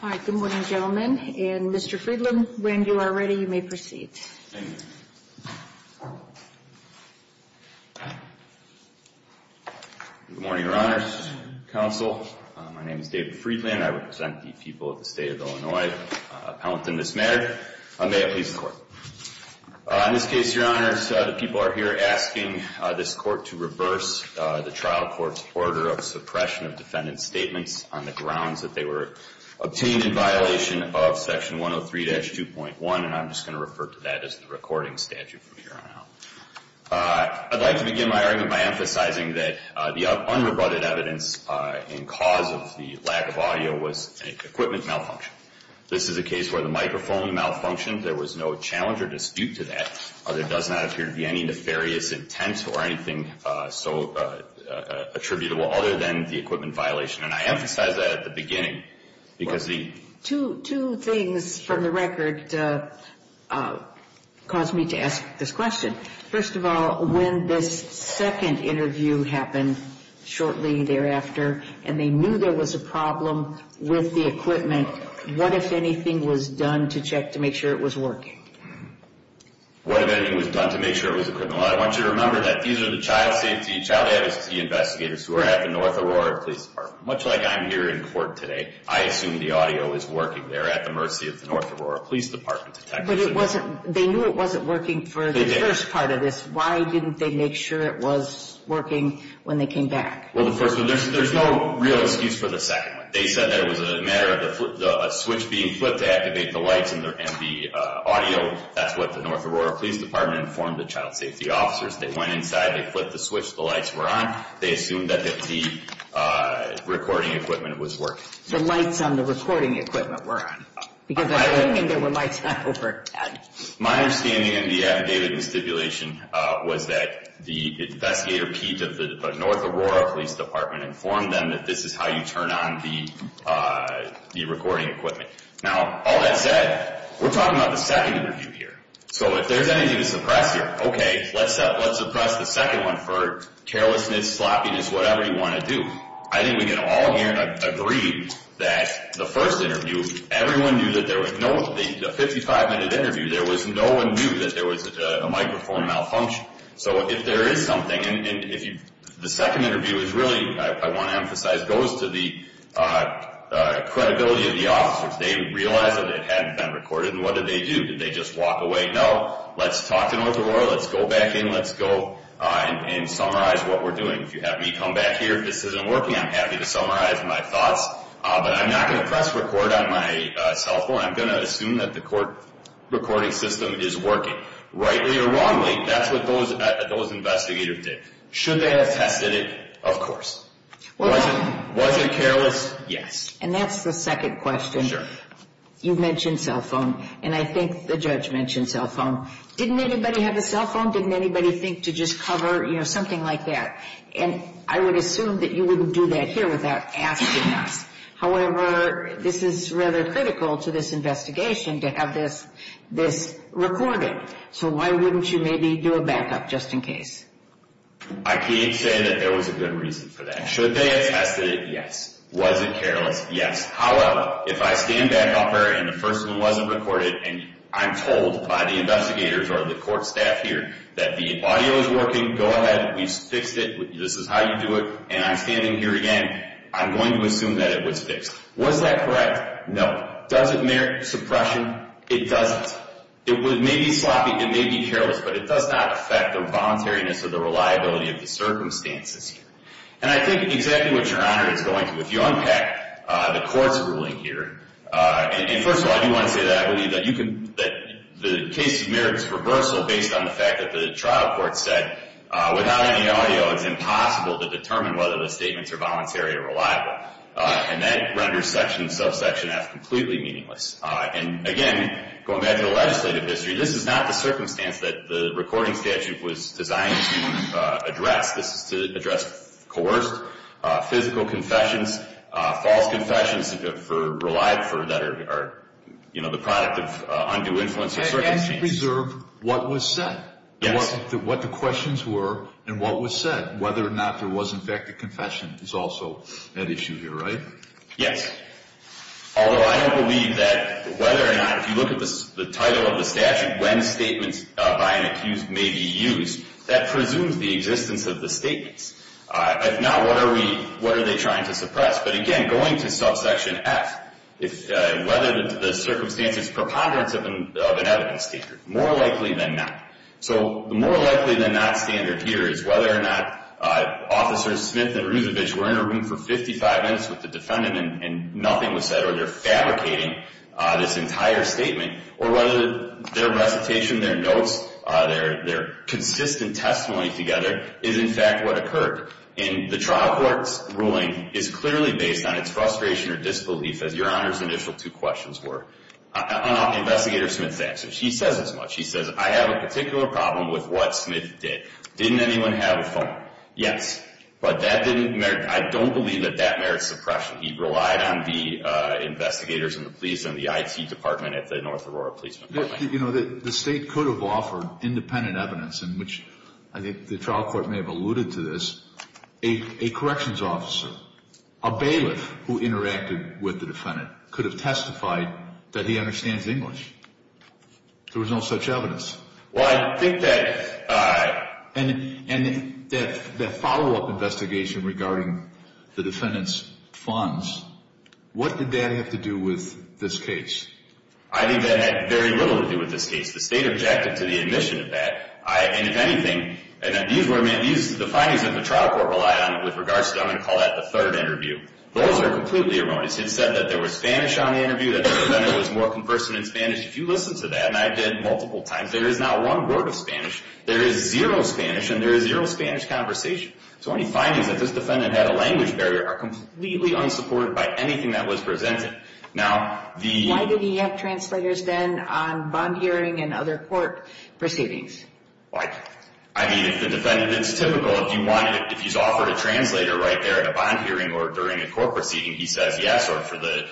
All right. Good morning, gentlemen. And Mr. Friedland, when you are ready, you may proceed. Thank you. Good morning, Your Honors. Counsel, my name is David Friedland. I represent the people of the state of Illinois. I'm appellant in this matter. May I please the court? In this case, Your Honors, the people are here asking this court to reverse the trial court's order of suppression of defendant's statements on the grounds that they were obtained in violation of Section 103-2.1. And I'm just going to refer to that as the recording statute from here on out. I'd like to begin my argument by emphasizing that the unrebutted evidence in cause of the lack of audio was an equipment malfunction. This is a case where the microphone malfunctioned. There was no challenge or dispute to that. There does not appear to be any nefarious intent or anything so attributable other than the equipment violation. And I emphasize that at the beginning because the two things from the record caused me to ask this question. First of all, when this second interview happened shortly thereafter and they knew there was a problem with the equipment, what, if anything, was done to check to make sure it was working? What, if anything, was done to make sure it was a criminal? I want you to remember that these are the child safety, child advocacy investigators who are at the North Aurora Police Department. Much like I'm here in court today, I assume the audio is working there at the mercy of the North Aurora Police Department detectives. But it wasn't, they knew it wasn't working for the first part of this. Why didn't they make sure it was working when they came back? Well, the first one, there's no real excuse for the second one. They said that it was a matter of a switch being flipped to activate the lights and the audio. That's what the North Aurora Police Department informed the child safety officers. They went inside, they flipped the switch, the lights were on. They assumed that the recording equipment was working. My understanding in the affidavit and stipulation was that the investigator Pete of the North Aurora Police Department informed them that this is how you turn on the recording equipment. Now, all that said, we're talking about the second interview here. So if there's anything to suppress here, okay, let's suppress the second one for carelessness, sloppiness, whatever you want to do. I think we can all here agree that the first interview, everyone knew that there was no, the 55 minute interview, there was no one knew that there was a microphone malfunction. So if there is something, and if you, the second interview is really, I want to emphasize, goes to the credibility of the officers. They realize that it hadn't been recorded and what did they do? Did they just walk away? No. Let's talk to North Aurora. Let's go back in. Let's go and summarize what we're doing. If you have me come back here, if this isn't working, I'm happy to summarize my thoughts. But I'm not going to press record on my cell phone. I'm going to assume that the recording system is working. Rightly or wrongly, that's what those investigators did. Should they have tested it? Of course. Was it careless? Yes. And that's the second question. You mentioned cell phone, and I think the judge mentioned cell phone. Didn't anybody have a cell phone? Didn't anybody think to just cover, you know, something like that? And I would assume that you wouldn't do that here without asking us. However, this is rather critical to this investigation to have this recorded. So why wouldn't you maybe do a backup just in case? I can't say that there was a good reason for that. Should they have tested it? Yes. Was it careless? Yes. However, if I stand back up there and the first one wasn't recorded and I'm told by the investigators or the court staff here that the audio is working, go ahead. We fixed it. This is how you do it. And I'm standing here again. I'm going to assume that it was fixed. Was that correct? No. Does it merit suppression? It doesn't. It may be sloppy, it may be careless, but it does not affect the voluntariness or the reliability of the circumstances here. And I think exactly what Your Honor is going to. If you unpack the court's ruling here, and first of all, I do want to say that I believe that the case merits reversal based on the fact that the trial court said without any audio, it's impossible to determine whether the statements are voluntary or reliable. And that renders section, subsection F, completely meaningless. And again, going back to the legislative history, this is not the circumstance that the recording statute was designed to address. This is to address coerced physical confessions, false confessions that are the product of undue influence or circumstances. And to preserve what was said. Yes. What the questions were and what was said. Whether or not there was in fact a confession is also at issue here, right? Yes. Although I don't believe that whether or not, if you look at the title of the statute, when statements by an accused may be used, that presumes the existence of the statements. If not, what are we, what are they trying to suppress? But again, going to subsection F, whether the circumstances preponderance of an evidence standard, more likely than not. So the more likely than not standard here is whether or not officers Smith and Ruzovic were in a room for 55 minutes with the defendant and nothing was said, or they're fabricating this entire statement, or whether their recitation, their notes, their consistent testimony together is in fact what occurred. And the trial court's ruling is clearly based on its frustration or disbelief, as your Honor's initial two questions were. Investigator Smith's answer. She says as much. She says, I have a particular problem with what Smith did. Didn't anyone have a phone? Yes. But that didn't, I don't believe that that merits suppression. He relied on the investigators and the police and the IT department at the North Aurora Police Department. The state could have offered independent evidence in which, I think the trial court may have alluded to this, a corrections officer, a bailiff who interacted with the defendant, could have testified that he understands English. There was no such evidence. Well, I think that, and that follow-up investigation regarding the defendant's funds, what did that have to do with this case? I think that had very little to do with this case. The state objected to the admission of that. And if anything, and these were, the findings of the trial court relied on it with regards to, I'm going to call that the third interview. Those are completely erroneous. It said that there was Spanish on the interview, that the defendant was more conversant in Spanish. If you listen to that, and I did multiple times, there is not one word of Spanish. There is zero Spanish, and there is zero Spanish conversation. So any findings that this defendant had a language barrier are completely unsupported by anything that was presented. Now, the... I mean, if the defendant, it's typical, if you wanted, if he's offered a translator right there at a bond hearing or during a court proceeding, he says yes, or for the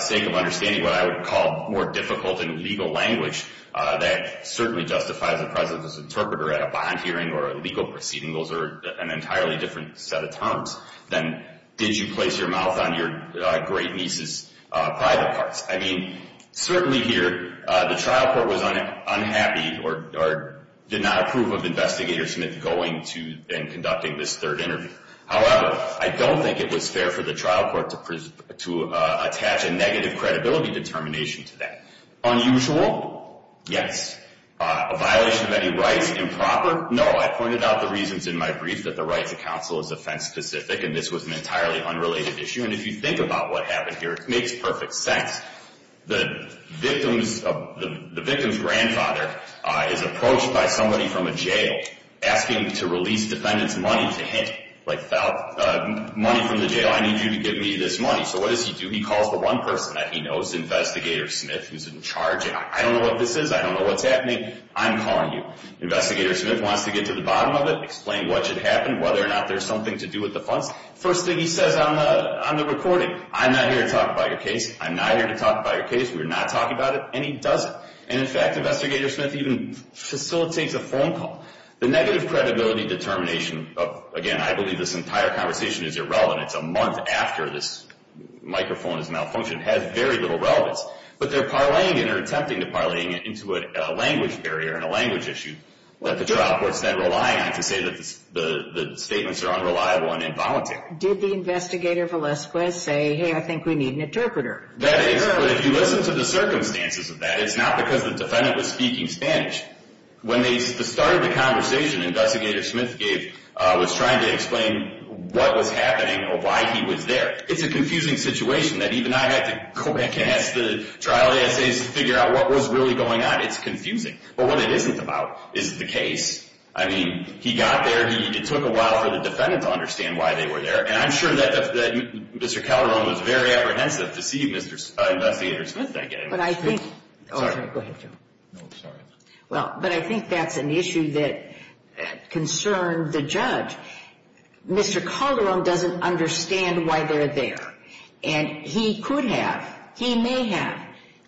sake of understanding what I would call more difficult in legal language, that certainly justifies the presence of this interpreter at a bond hearing or a legal proceeding. Those are an entirely different set of terms than, did you place your mouth on your great niece's private parts? I mean, certainly here, the trial court was unhappy or did not approve of Investigator Smith going to and conducting this third interview. However, I don't think it was fair for the trial court to attach a negative credibility determination to that. Unusual? Yes. A violation of any rights? Improper? No. I pointed out the reasons in my brief that the rights of counsel is offense specific, and this was an entirely unrelated issue. And if you think about what happened here, it makes perfect sense. The victim's grandfather is approached by somebody from a jail asking to release defendant's money to him. Like, money from the jail, I need you to give me this money. So what does he do? He calls the one person that he knows, Investigator Smith, who's in charge. I don't know what this is. I don't know what's happening. I'm calling you. Investigator Smith wants to get to the bottom of it, explain what should happen, whether or not there's something to do with the funds. First thing he says on the recording, I'm not here to talk about your case. I'm not here to talk about your case. We're not talking about it. And he doesn't. And in fact, Investigator Smith even facilitates a phone call. The negative credibility determination of, again, I believe this entire conversation is irrelevant. It's a month after this microphone has malfunctioned. It has very little relevance. But they're parlaying it or attempting to parlaying it into a language barrier and a language issue that the trial court's then relying on to say that the statements are unreliable and involuntary. Did the Investigator Velasquez say, hey, I think we need an interpreter? If you listen to the circumstances of that, it's not because the defendant was speaking Spanish. When they started the conversation, Investigator Smith was trying to explain what was happening or why he was there. It's a confusing situation that even I had to go back and ask the trial essays to figure out what was really going on. It's confusing. But what it isn't about is the case. I mean, he got there. It took a while for the defendant to understand why they were there. And I'm sure that Mr. Calderon was very apprehensive to see Investigator Smith. But I think that's an issue that concerned the judge. Mr. Calderon doesn't understand why they're there. And he could have, he may have,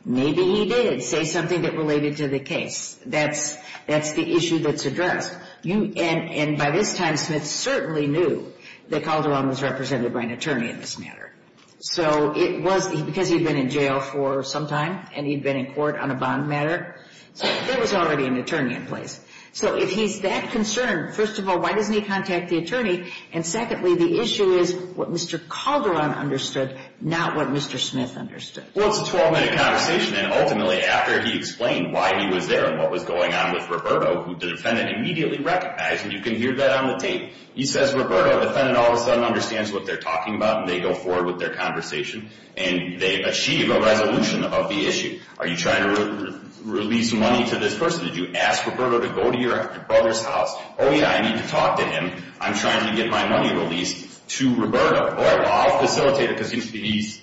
maybe he did say something that related to the case. That's the issue that's addressed. And by this time, Smith certainly knew that Calderon was represented by an attorney in this matter. So it was, because he'd been in jail for some time and he'd been in court on a bond matter, there was already an attorney in place. So if he's that concerned, first of all, why doesn't he contact the attorney? And secondly, the issue is what Mr. Calderon understood, not what Mr. Smith understood. Well, it's a 12-minute conversation. And ultimately, after he explained why he was there and what was going on with Roberto, who the defendant immediately recognized, and you can hear that on the tape, he says, Roberto, the defendant all of a sudden understands what they're talking about and they go forward with their conversation and they achieve a resolution of the issue. Are you trying to release money to this person? Did you ask Roberto to go to your brother's house? Oh, yeah, I need to talk to him. I'm trying to get my money released to Roberto. Well, I'll facilitate it because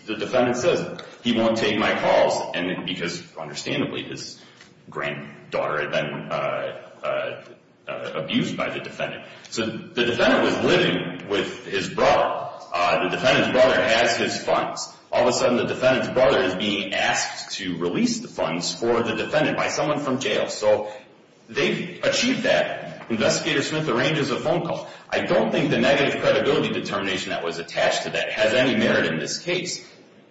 the defendant says he won't take my calls because, understandably, his granddaughter had been abused by the defendant. So the defendant was living with his brother. The defendant's brother has his funds. All of a sudden, the defendant's brother is being asked to release the funds for the defendant by someone from jail. So they've achieved that. Investigator Smith arranges a phone call. I don't think the negative credibility determination that was attached to that has any merit in this case.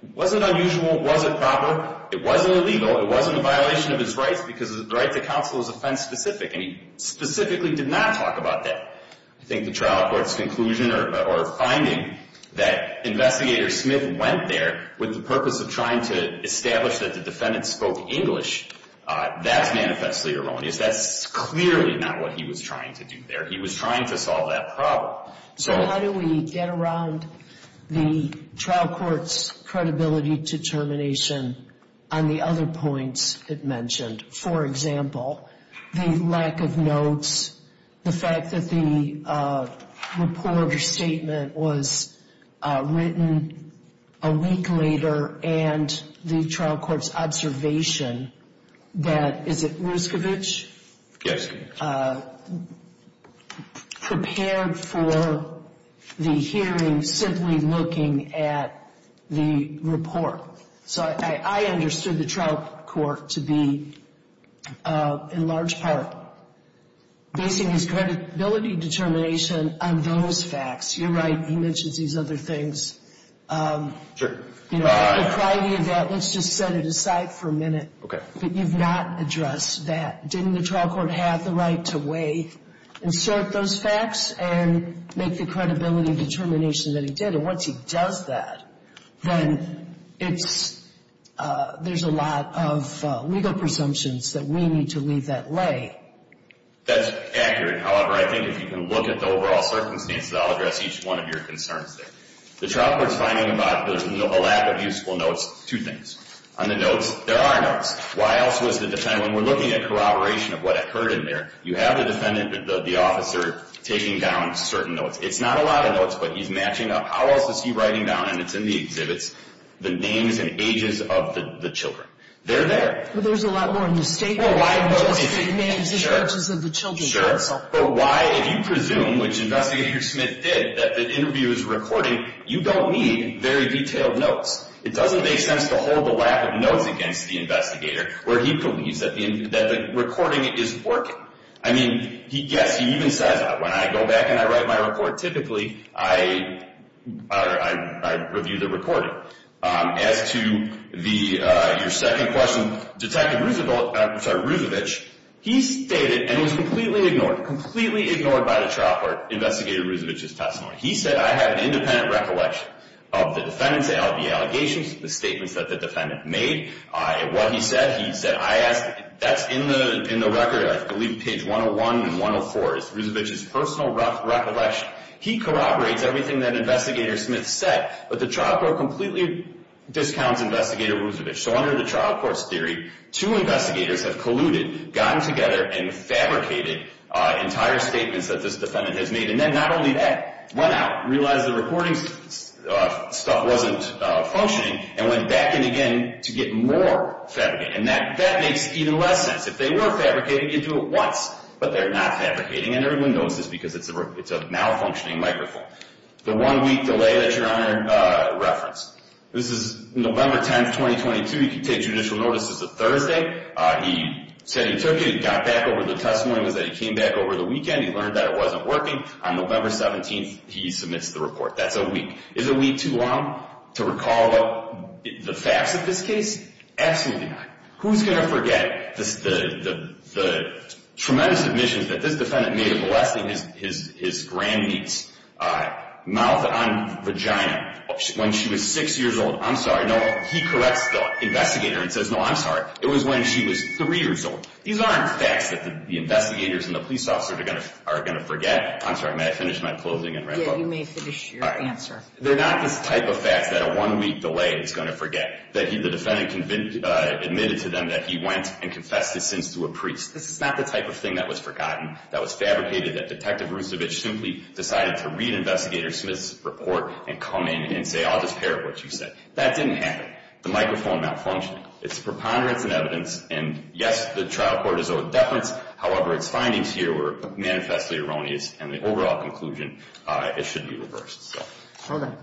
It wasn't unusual. It wasn't proper. It wasn't illegal. It wasn't a violation of his rights because the right to counsel is offense-specific, and he specifically did not talk about that. I think the trial court's conclusion or finding that Investigator Smith went there with the purpose of trying to establish that the defendant spoke English, that's manifestly erroneous. That's clearly not what he was trying to do there. He was trying to solve that problem. So how do we get around the trial court's credibility determination on the other points it mentioned, for example, the lack of notes, the fact that the report or statement was written a week later, and the trial court's observation that, is it Ruscovich, prepared for the hearing simply looking at the report? So I understood the trial court to be, in large part, basing his credibility determination on those facts. You're right. He mentions these other things. You know, at the priority of that, let's just set it aside for a minute. Okay. But you've not addressed that. Didn't the trial court have the right to weigh and sort those facts and make the credibility determination that he did? And once he does that, then there's a lot of legal presumptions that we need to leave that lay. That's accurate. However, I think if you can look at the overall circumstances, I'll address each one of your concerns there. The trial court's finding about a lack of useful notes, two things. On the notes, there are notes. Why else was the defendant, when we're looking at corroboration of what occurred in there, you have the defendant, the officer, taking down certain notes. It's not a lot of notes, but he's matching up. How else is he writing down, and it's in the exhibits, the names and ages of the children? They're there. But there's a lot more in the statement than just the names and ages of the children. Sure. But why, if you presume, which Investigator Smith did, that the interview is recording, you don't need very detailed notes. It doesn't make sense to hold the lack of notes against the investigator where he believes that the recording is working. I mean, yes, he even says, when I go back and I write my report, typically I review the recording. As to your second question, Detective Rusevich, he stated, and was completely ignored, completely ignored by the trial court, Investigator Rusevich's testimony. He said, I had an independent recollection of the defendant's allegations, the statements that the defendant made. What he said, he said, I asked – that's in the record, I believe, page 101 and 104, is Rusevich's personal recollection. He corroborates everything that Investigator Smith said, but the trial court completely discounts Investigator Rusevich. So under the trial court's theory, two investigators have colluded, gotten together, and fabricated entire statements that this defendant has made. And then not only that, went out, realized the recording stuff wasn't functioning, and went back in again to get more fabricated. And that makes even less sense. If they were fabricating, you'd do it once. But they're not fabricating, and everyone knows this because it's a malfunctioning microphone. The one-week delay that Your Honor referenced, this is November 10, 2022. You can take judicial notice, it's a Thursday. He said he took it, he got back over the testimony, it was that he came back over the weekend, he learned that it wasn't working. On November 17, he submits the report. That's a week. Is a week too long to recall the facts of this case? Absolutely not. Who's going to forget the tremendous admissions that this defendant made of molesting his grand-niece, mouth on vagina, when she was six years old? I'm sorry. No, he corrects the investigator and says, no, I'm sorry. It was when she was three years old. These aren't facts that the investigators and the police officer are going to forget. I'm sorry, may I finish my closing and wrap up? Yeah, you may finish your answer. They're not this type of facts that a one-week delay is going to forget, that the defendant admitted to them that he went and confessed his sins to a priest. This is not the type of thing that was forgotten, that was fabricated, that Detective Rusevich simply decided to read Investigator Smith's report and come in and say, I'll just parrot what you said. That didn't happen. The microphone malfunctioned. It's preponderance and evidence, and yes, the trial court is over deference. However, its findings here were manifestly erroneous, and the overall conclusion, it should be reversed. Are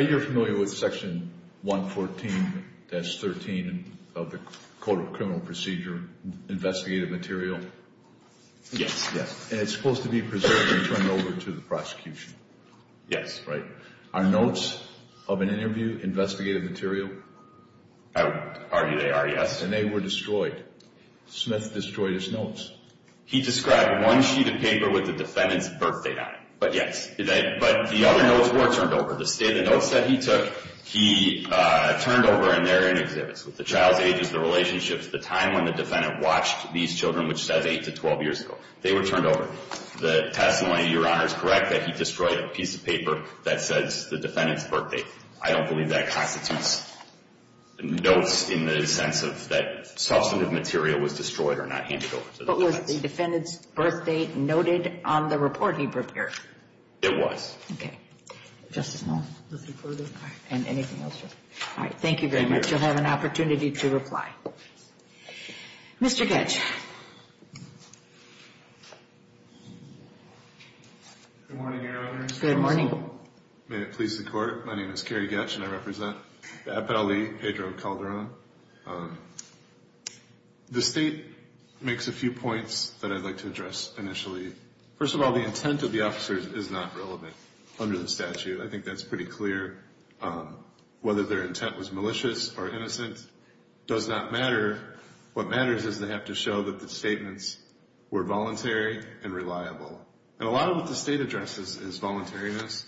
you familiar with Section 114-13 of the Code of Criminal Procedure, investigative material? Yes. And it's supposed to be preserved and turned over to the prosecution. Yes. Are notes of an interview investigative material? I would argue they are, yes. And they were destroyed. Smith destroyed his notes. He described one sheet of paper with the defendant's birthday on it, but yes. But the other notes were turned over. The notes that he took, he turned over, and they're in exhibits, with the child's ages, the relationships, the time when the defendant watched these children, which says 8 to 12 years ago. They were turned over. The testimony, Your Honor, is correct that he destroyed a piece of paper that says the defendant's birthday. I don't believe that constitutes notes in the sense of that substantive material was destroyed or not handed over to the defense. But was the defendant's birthdate noted on the report he prepared? It was. Okay. Just a moment. And anything else? All right. Thank you very much. You'll have an opportunity to reply. Mr. Ketch. Good morning, Your Honor. Good morning. May it please the Court. My name is Kerry Ketch, and I represent the Appellee Pedro Calderon. The State makes a few points that I'd like to address initially. First of all, the intent of the officers is not relevant under the statute. I think that's pretty clear. Whether their intent was malicious or innocent does not matter. What matters is they have to show that the statements were voluntary and reliable. And a lot of what the State addresses is voluntariness,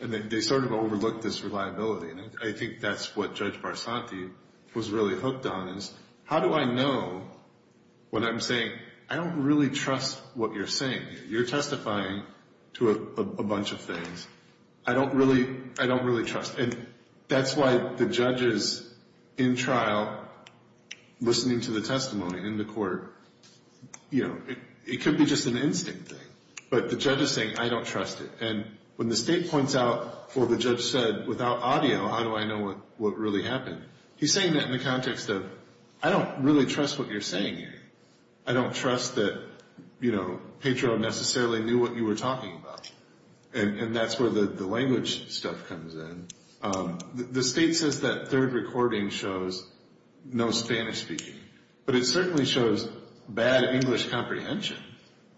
and they sort of overlook this reliability. And I think that's what Judge Barsanti was really hooked on is, how do I know when I'm saying, I don't really trust what you're saying? You're testifying to a bunch of things. I don't really trust. And that's why the judges in trial, listening to the testimony in the court, you know, it could be just an instinct thing. But the judge is saying, I don't trust it. And when the State points out, well, the judge said, without audio, how do I know what really happened? He's saying that in the context of, I don't really trust what you're saying here. I don't trust that, you know, Pedro necessarily knew what you were talking about. And that's where the language stuff comes in. The State says that third recording shows no Spanish speaking. But it certainly shows bad English comprehension.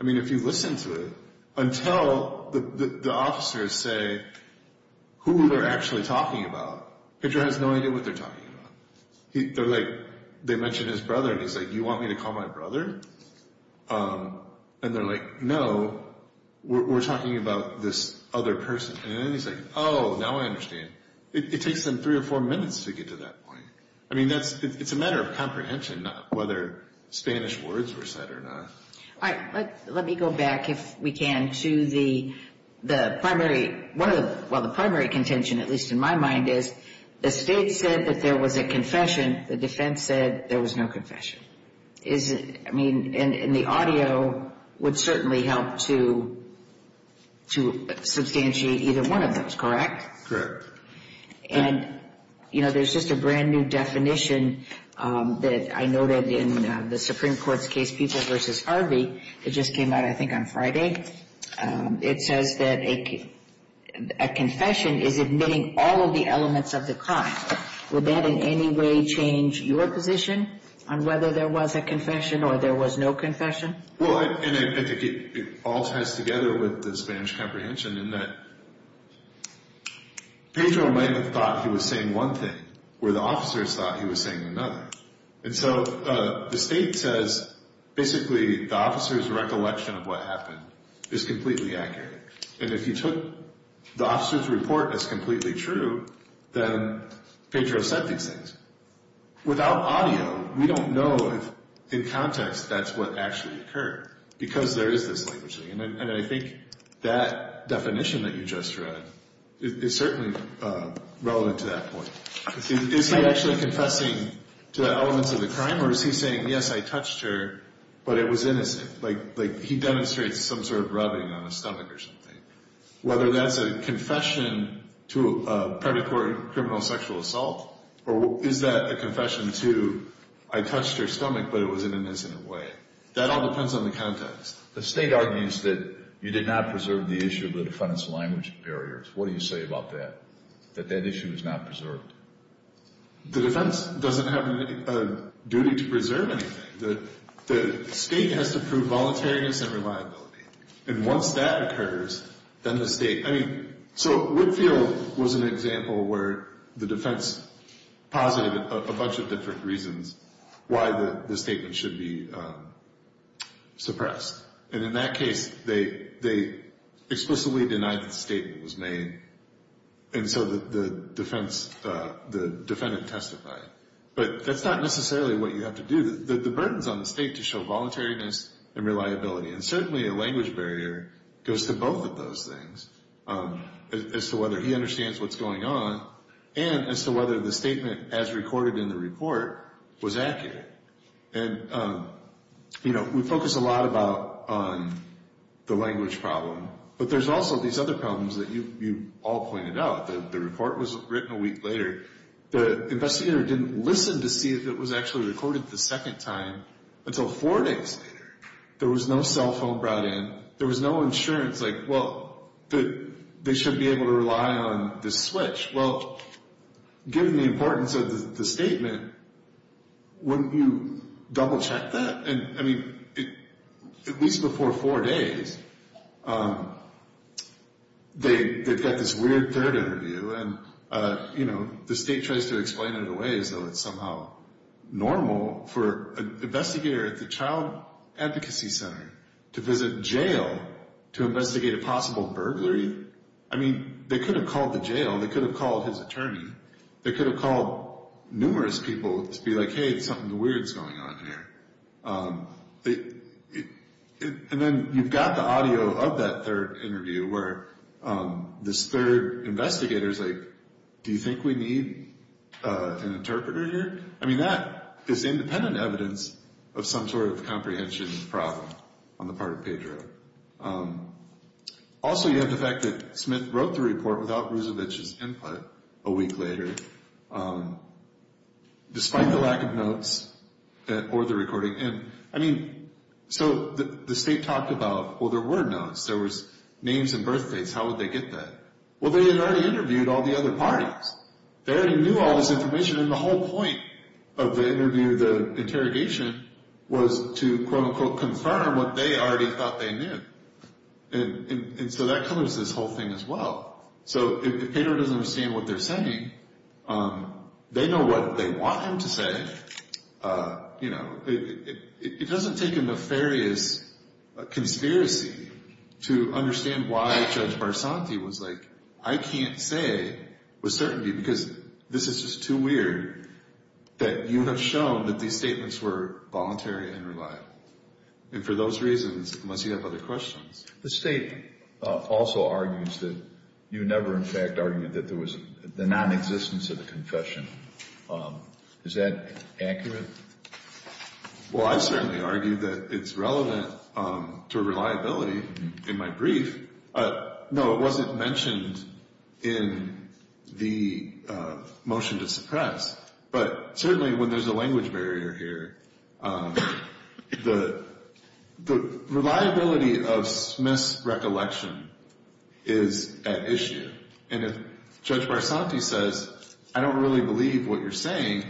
I mean, if you listen to it until the officers say who they're actually talking about, Pedro has no idea what they're talking about. They're like, they mentioned his brother, and he's like, you want me to call my brother? And they're like, no, we're talking about this other person. And then he's like, oh, now I understand. It takes them three or four minutes to get to that point. I mean, it's a matter of comprehension, not whether Spanish words were said or not. All right. Let me go back, if we can, to the primary, well, the primary contention, at least in my mind, is the State said that there was a confession. The defense said there was no confession. I mean, and the audio would certainly help to substantiate either one of those, correct? Correct. And, you know, there's just a brand new definition that I noted in the Supreme Court's case, People v. Harvey. It just came out, I think, on Friday. It says that a confession is admitting all of the elements of the crime. Would that in any way change your position on whether there was a confession or there was no confession? Well, and I think it all ties together with the Spanish comprehension in that Pedro might have thought he was saying one thing, where the officers thought he was saying another. And so the State says, basically, the officer's recollection of what happened is completely accurate. And if you took the officer's report as completely true, then Pedro said these things. Without audio, we don't know if, in context, that's what actually occurred, because there is this language. And I think that definition that you just read is certainly relevant to that point. Is he actually confessing to the elements of the crime, or is he saying, yes, I touched her, but it was innocent? Like he demonstrates some sort of rubbing on his stomach or something. Whether that's a confession to a predatory criminal sexual assault, or is that a confession to I touched her stomach, but it was in an innocent way? That all depends on the context. The State argues that you did not preserve the issue of the defendant's language barriers. What do you say about that, that that issue is not preserved? The defense doesn't have a duty to preserve anything. The State has to prove voluntariness and reliability. And once that occurs, then the State. So Whitfield was an example where the defense posited a bunch of different reasons why the statement should be suppressed. And in that case, they explicitly denied that the statement was made, and so the defendant testified. But that's not necessarily what you have to do. The burden is on the State to show voluntariness and reliability. And certainly a language barrier goes to both of those things, as to whether he understands what's going on, and as to whether the statement as recorded in the report was accurate. And, you know, we focus a lot about the language problem, but there's also these other problems that you all pointed out. The report was written a week later. The investigator didn't listen to see if it was actually recorded the second time until four days later. There was no cell phone brought in. There was no insurance. Like, well, they should be able to rely on the switch. Well, given the importance of the statement, wouldn't you double-check that? And, I mean, at least before four days, they've got this weird third interview, and, you know, the State tries to explain it away as though it's somehow normal. For an investigator at the Child Advocacy Center to visit jail to investigate a possible burglary? I mean, they could have called the jail. They could have called his attorney. They could have called numerous people to be like, hey, something weird is going on here. And then you've got the audio of that third interview where this third investigator is like, do you think we need an interpreter here? I mean, that is independent evidence of some sort of comprehension problem on the part of Pedro. Also, you have the fact that Smith wrote the report without Rusevich's input a week later, despite the lack of notes or the recording. And, I mean, so the State talked about, well, there were notes. There were names and birthdates. How would they get that? Well, they had already interviewed all the other parties. They already knew all this information, and the whole point of the interview, the interrogation, was to quote, unquote, confirm what they already thought they knew. And so that covers this whole thing as well. So if Pedro doesn't understand what they're saying, they know what they want him to say. You know, it doesn't take a nefarious conspiracy to understand why Judge Barsanti was like, I can't say with certainty because this is just too weird that you have shown that these statements were voluntary and reliable. And for those reasons, unless you have other questions. The State also argues that you never, in fact, argued that there was the nonexistence of the confession. Is that accurate? Well, I certainly argue that it's relevant to reliability in my brief. No, it wasn't mentioned in the motion to suppress. But certainly when there's a language barrier here, the reliability of Smith's recollection is at issue. And if Judge Barsanti says, I don't really believe what you're saying,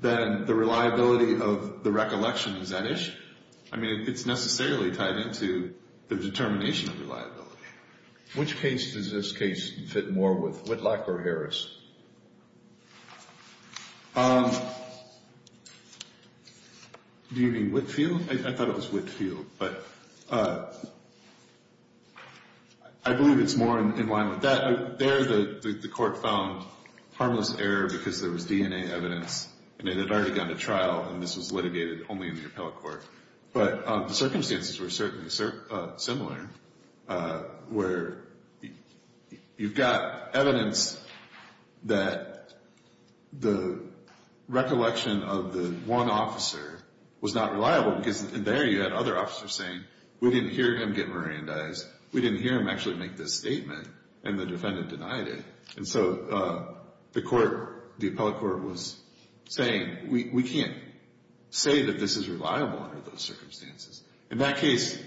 then the reliability of the recollection is at issue. I mean, it's necessarily tied into the determination of reliability. Which case does this case fit more with, Whitlock or Harris? Do you mean Whitfield? I thought it was Whitfield, but I believe it's more in line with that. There the court found harmless error because there was DNA evidence. And it had already gone to trial, and this was litigated only in the appellate court. But the circumstances were certainly similar, where you've got evidence that the recollection of the one officer was not reliable. Because there you had other officers saying, we didn't hear him get Mirandized. We didn't hear him actually make this statement, and the defendant denied it. And so the court, the appellate court was saying, we can't say that this is reliable under those circumstances. In that case,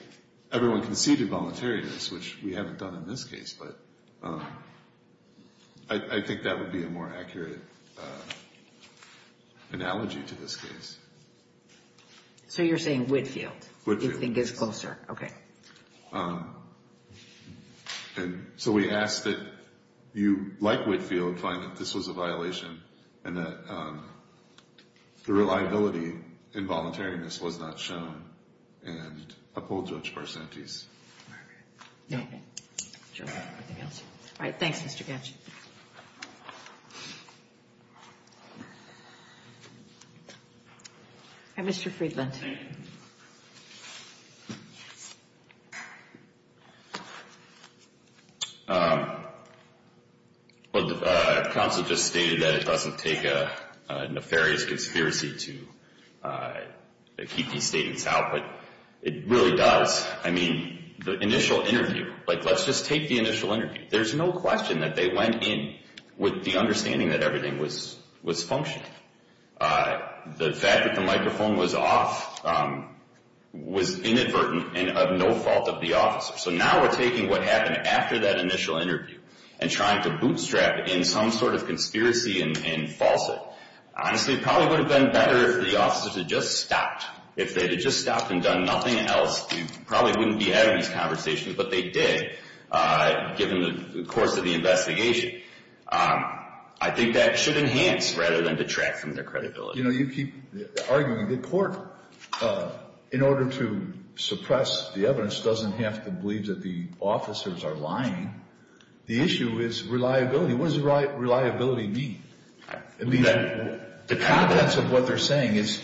everyone conceded voluntariness, which we haven't done in this case. But I think that would be a more accurate analogy to this case. So you're saying Whitfield. Whitfield. You think is closer. So we ask that you, like Whitfield, find that this was a violation and that the reliability in voluntariness was not shown. And uphold Judge Barsanti's. No. All right. Thanks, Mr. Gatch. All right, Mr. Friedland. Thank you. Well, the counsel just stated that it doesn't take a nefarious conspiracy to keep these statements out. But it really does. I mean, the initial interview. Like, let's just take the initial interview. There's no question that they went in with the understanding that everything was functioning. The fact that the microphone was off was inadvertent and of no fault of the officer. So now we're taking what happened after that initial interview and trying to bootstrap in some sort of conspiracy and false it. Honestly, it probably would have been better if the officers had just stopped. If they had just stopped and done nothing else, we probably wouldn't be having these conversations. But they did, given the course of the investigation. I think that should enhance rather than detract from their credibility. You know, you keep arguing that the court, in order to suppress the evidence, doesn't have to believe that the officers are lying. The issue is reliability. What does reliability mean? The contents of what they're saying, is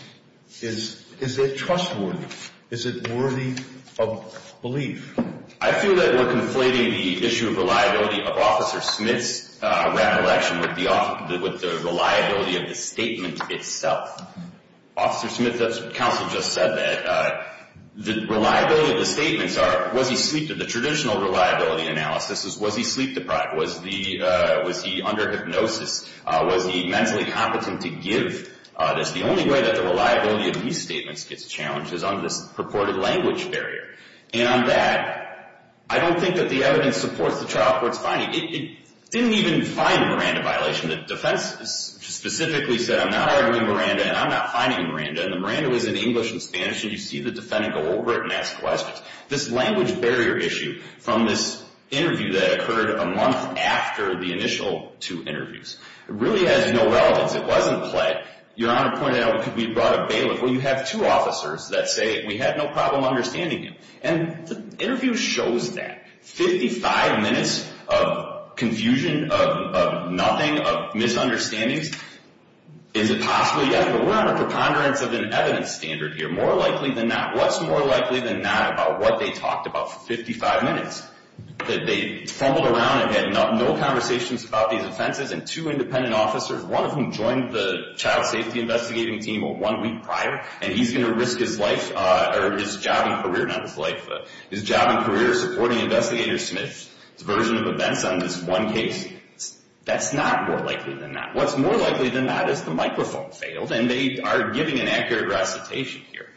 it trustworthy? Is it worthy of belief? I feel that we're conflating the issue of reliability of Officer Smith's ran election with the reliability of the statement itself. Officer Smith's counsel just said that the reliability of the statements are, was he sleep deprived? The traditional reliability analysis is, was he sleep deprived? Was he under hypnosis? Was he mentally competent to give this? The only way that the reliability of these statements gets challenged is under this purported language barrier. And on that, I don't think that the evidence supports the trial court's finding. It didn't even find a Miranda violation. The defense specifically said, I'm not arguing Miranda, and I'm not finding Miranda. And the Miranda was in English and Spanish, and you see the defendant go over it and ask questions. This language barrier issue from this interview that occurred a month after the initial two interviews really has no relevance. It wasn't played. Your Honor pointed out, because we brought a bailiff. Well, you have two officers that say, we had no problem understanding you. And the interview shows that. Fifty-five minutes of confusion, of nothing, of misunderstandings. Is it possible? Yeah, but we're on a preponderance of an evidence standard here. More likely than not. What they talked about for 55 minutes, that they fumbled around and had no conversations about these offenses, and two independent officers, one of whom joined the child safety investigating team one week prior, and he's going to risk his life or his job and career, not his life, his job and career supporting Investigator Smith's version of events on this one case. That's not more likely than that. What's more likely than that is the microphone failed, and they are giving an accurate recitation here.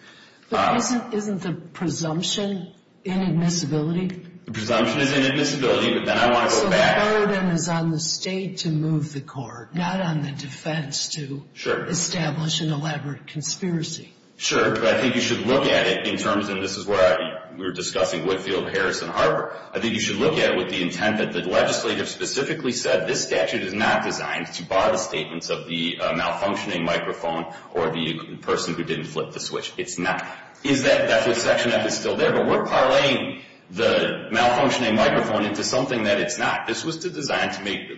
But isn't the presumption inadmissibility? The presumption is inadmissibility, but then I want to go back. So the burden is on the state to move the court, not on the defense to establish an elaborate conspiracy. Sure, but I think you should look at it in terms, and this is where we were discussing Woodfield, Harris, and Harper. I think you should look at it with the intent that the legislative specifically said, this statute is not designed to bar the statements of the malfunctioning microphone or the person who didn't flip the switch. It's not. That's what Section F is still there, but we're parlaying the malfunctioning microphone into something that it's not. This was designed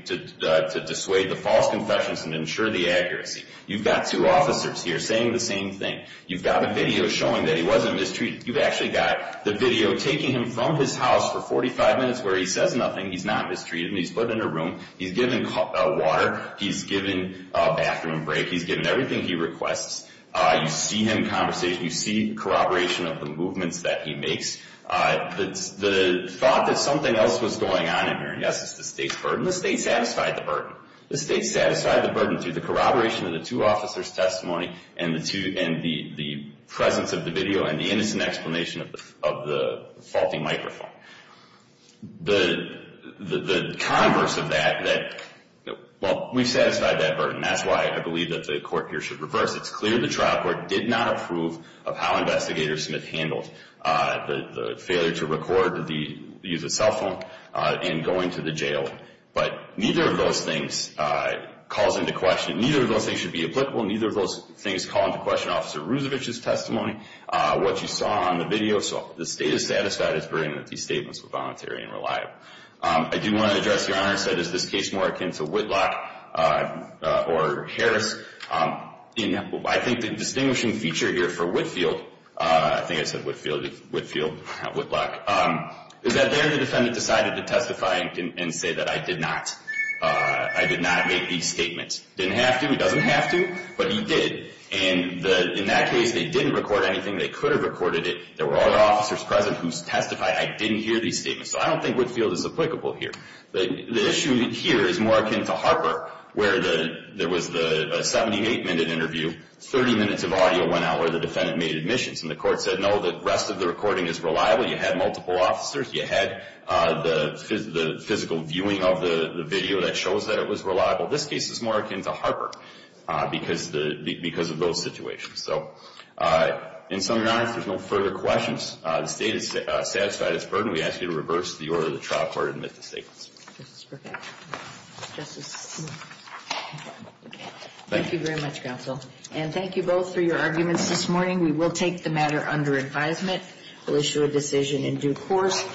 to dissuade the false confessions and ensure the accuracy. You've got two officers here saying the same thing. You've got a video showing that he wasn't mistreated. You've actually got the video taking him from his house for 45 minutes where he says nothing. He's not mistreated. He's put in a room. He's given water. He's given a bathroom break. He's given everything he requests. You see him in conversation. You see corroboration of the movements that he makes. The thought that something else was going on in there, yes, is the state's burden. The state satisfied the burden. The state satisfied the burden through the corroboration of the two officers' testimony and the presence of the video and the innocent explanation of the faulty microphone. The converse of that, well, we satisfied that burden. That's why I believe that the court here should reverse. It's clear the trial court did not approve of how Investigator Smith handled the failure to record the use of cell phone and going to the jail, but neither of those things calls into question. Neither of those things should be applicable. Neither of those things call into question Officer Rusevich's testimony. What you saw on the video, the state is satisfied its burden that these statements were voluntary and reliable. I do want to address, Your Honor, instead, is this case more akin to Whitlock or Harris? I think the distinguishing feature here for Whitfield, I think I said Whitfield, Whitlock, is that there the defendant decided to testify and say that I did not. I did not make these statements. Didn't have to. He doesn't have to, but he did. And in that case, they didn't record anything. They could have recorded it. There were other officers present who testified. I didn't hear these statements. So I don't think Whitfield is applicable here. The issue here is more akin to Harper where there was a 78-minute interview, 30 minutes of audio went out where the defendant made admissions, and the court said, no, the rest of the recording is reliable. You had multiple officers. You had the physical viewing of the video that shows that it was reliable. This case is more akin to Harper because of those situations. So, in summary, Your Honor, if there's no further questions, the State has satisfied its burden. We ask you to reverse the order of the trial. Court will admit to statements. Thank you very much, Counsel. And thank you both for your arguments this morning. We will take the matter under advisement. We'll issue a decision in due course.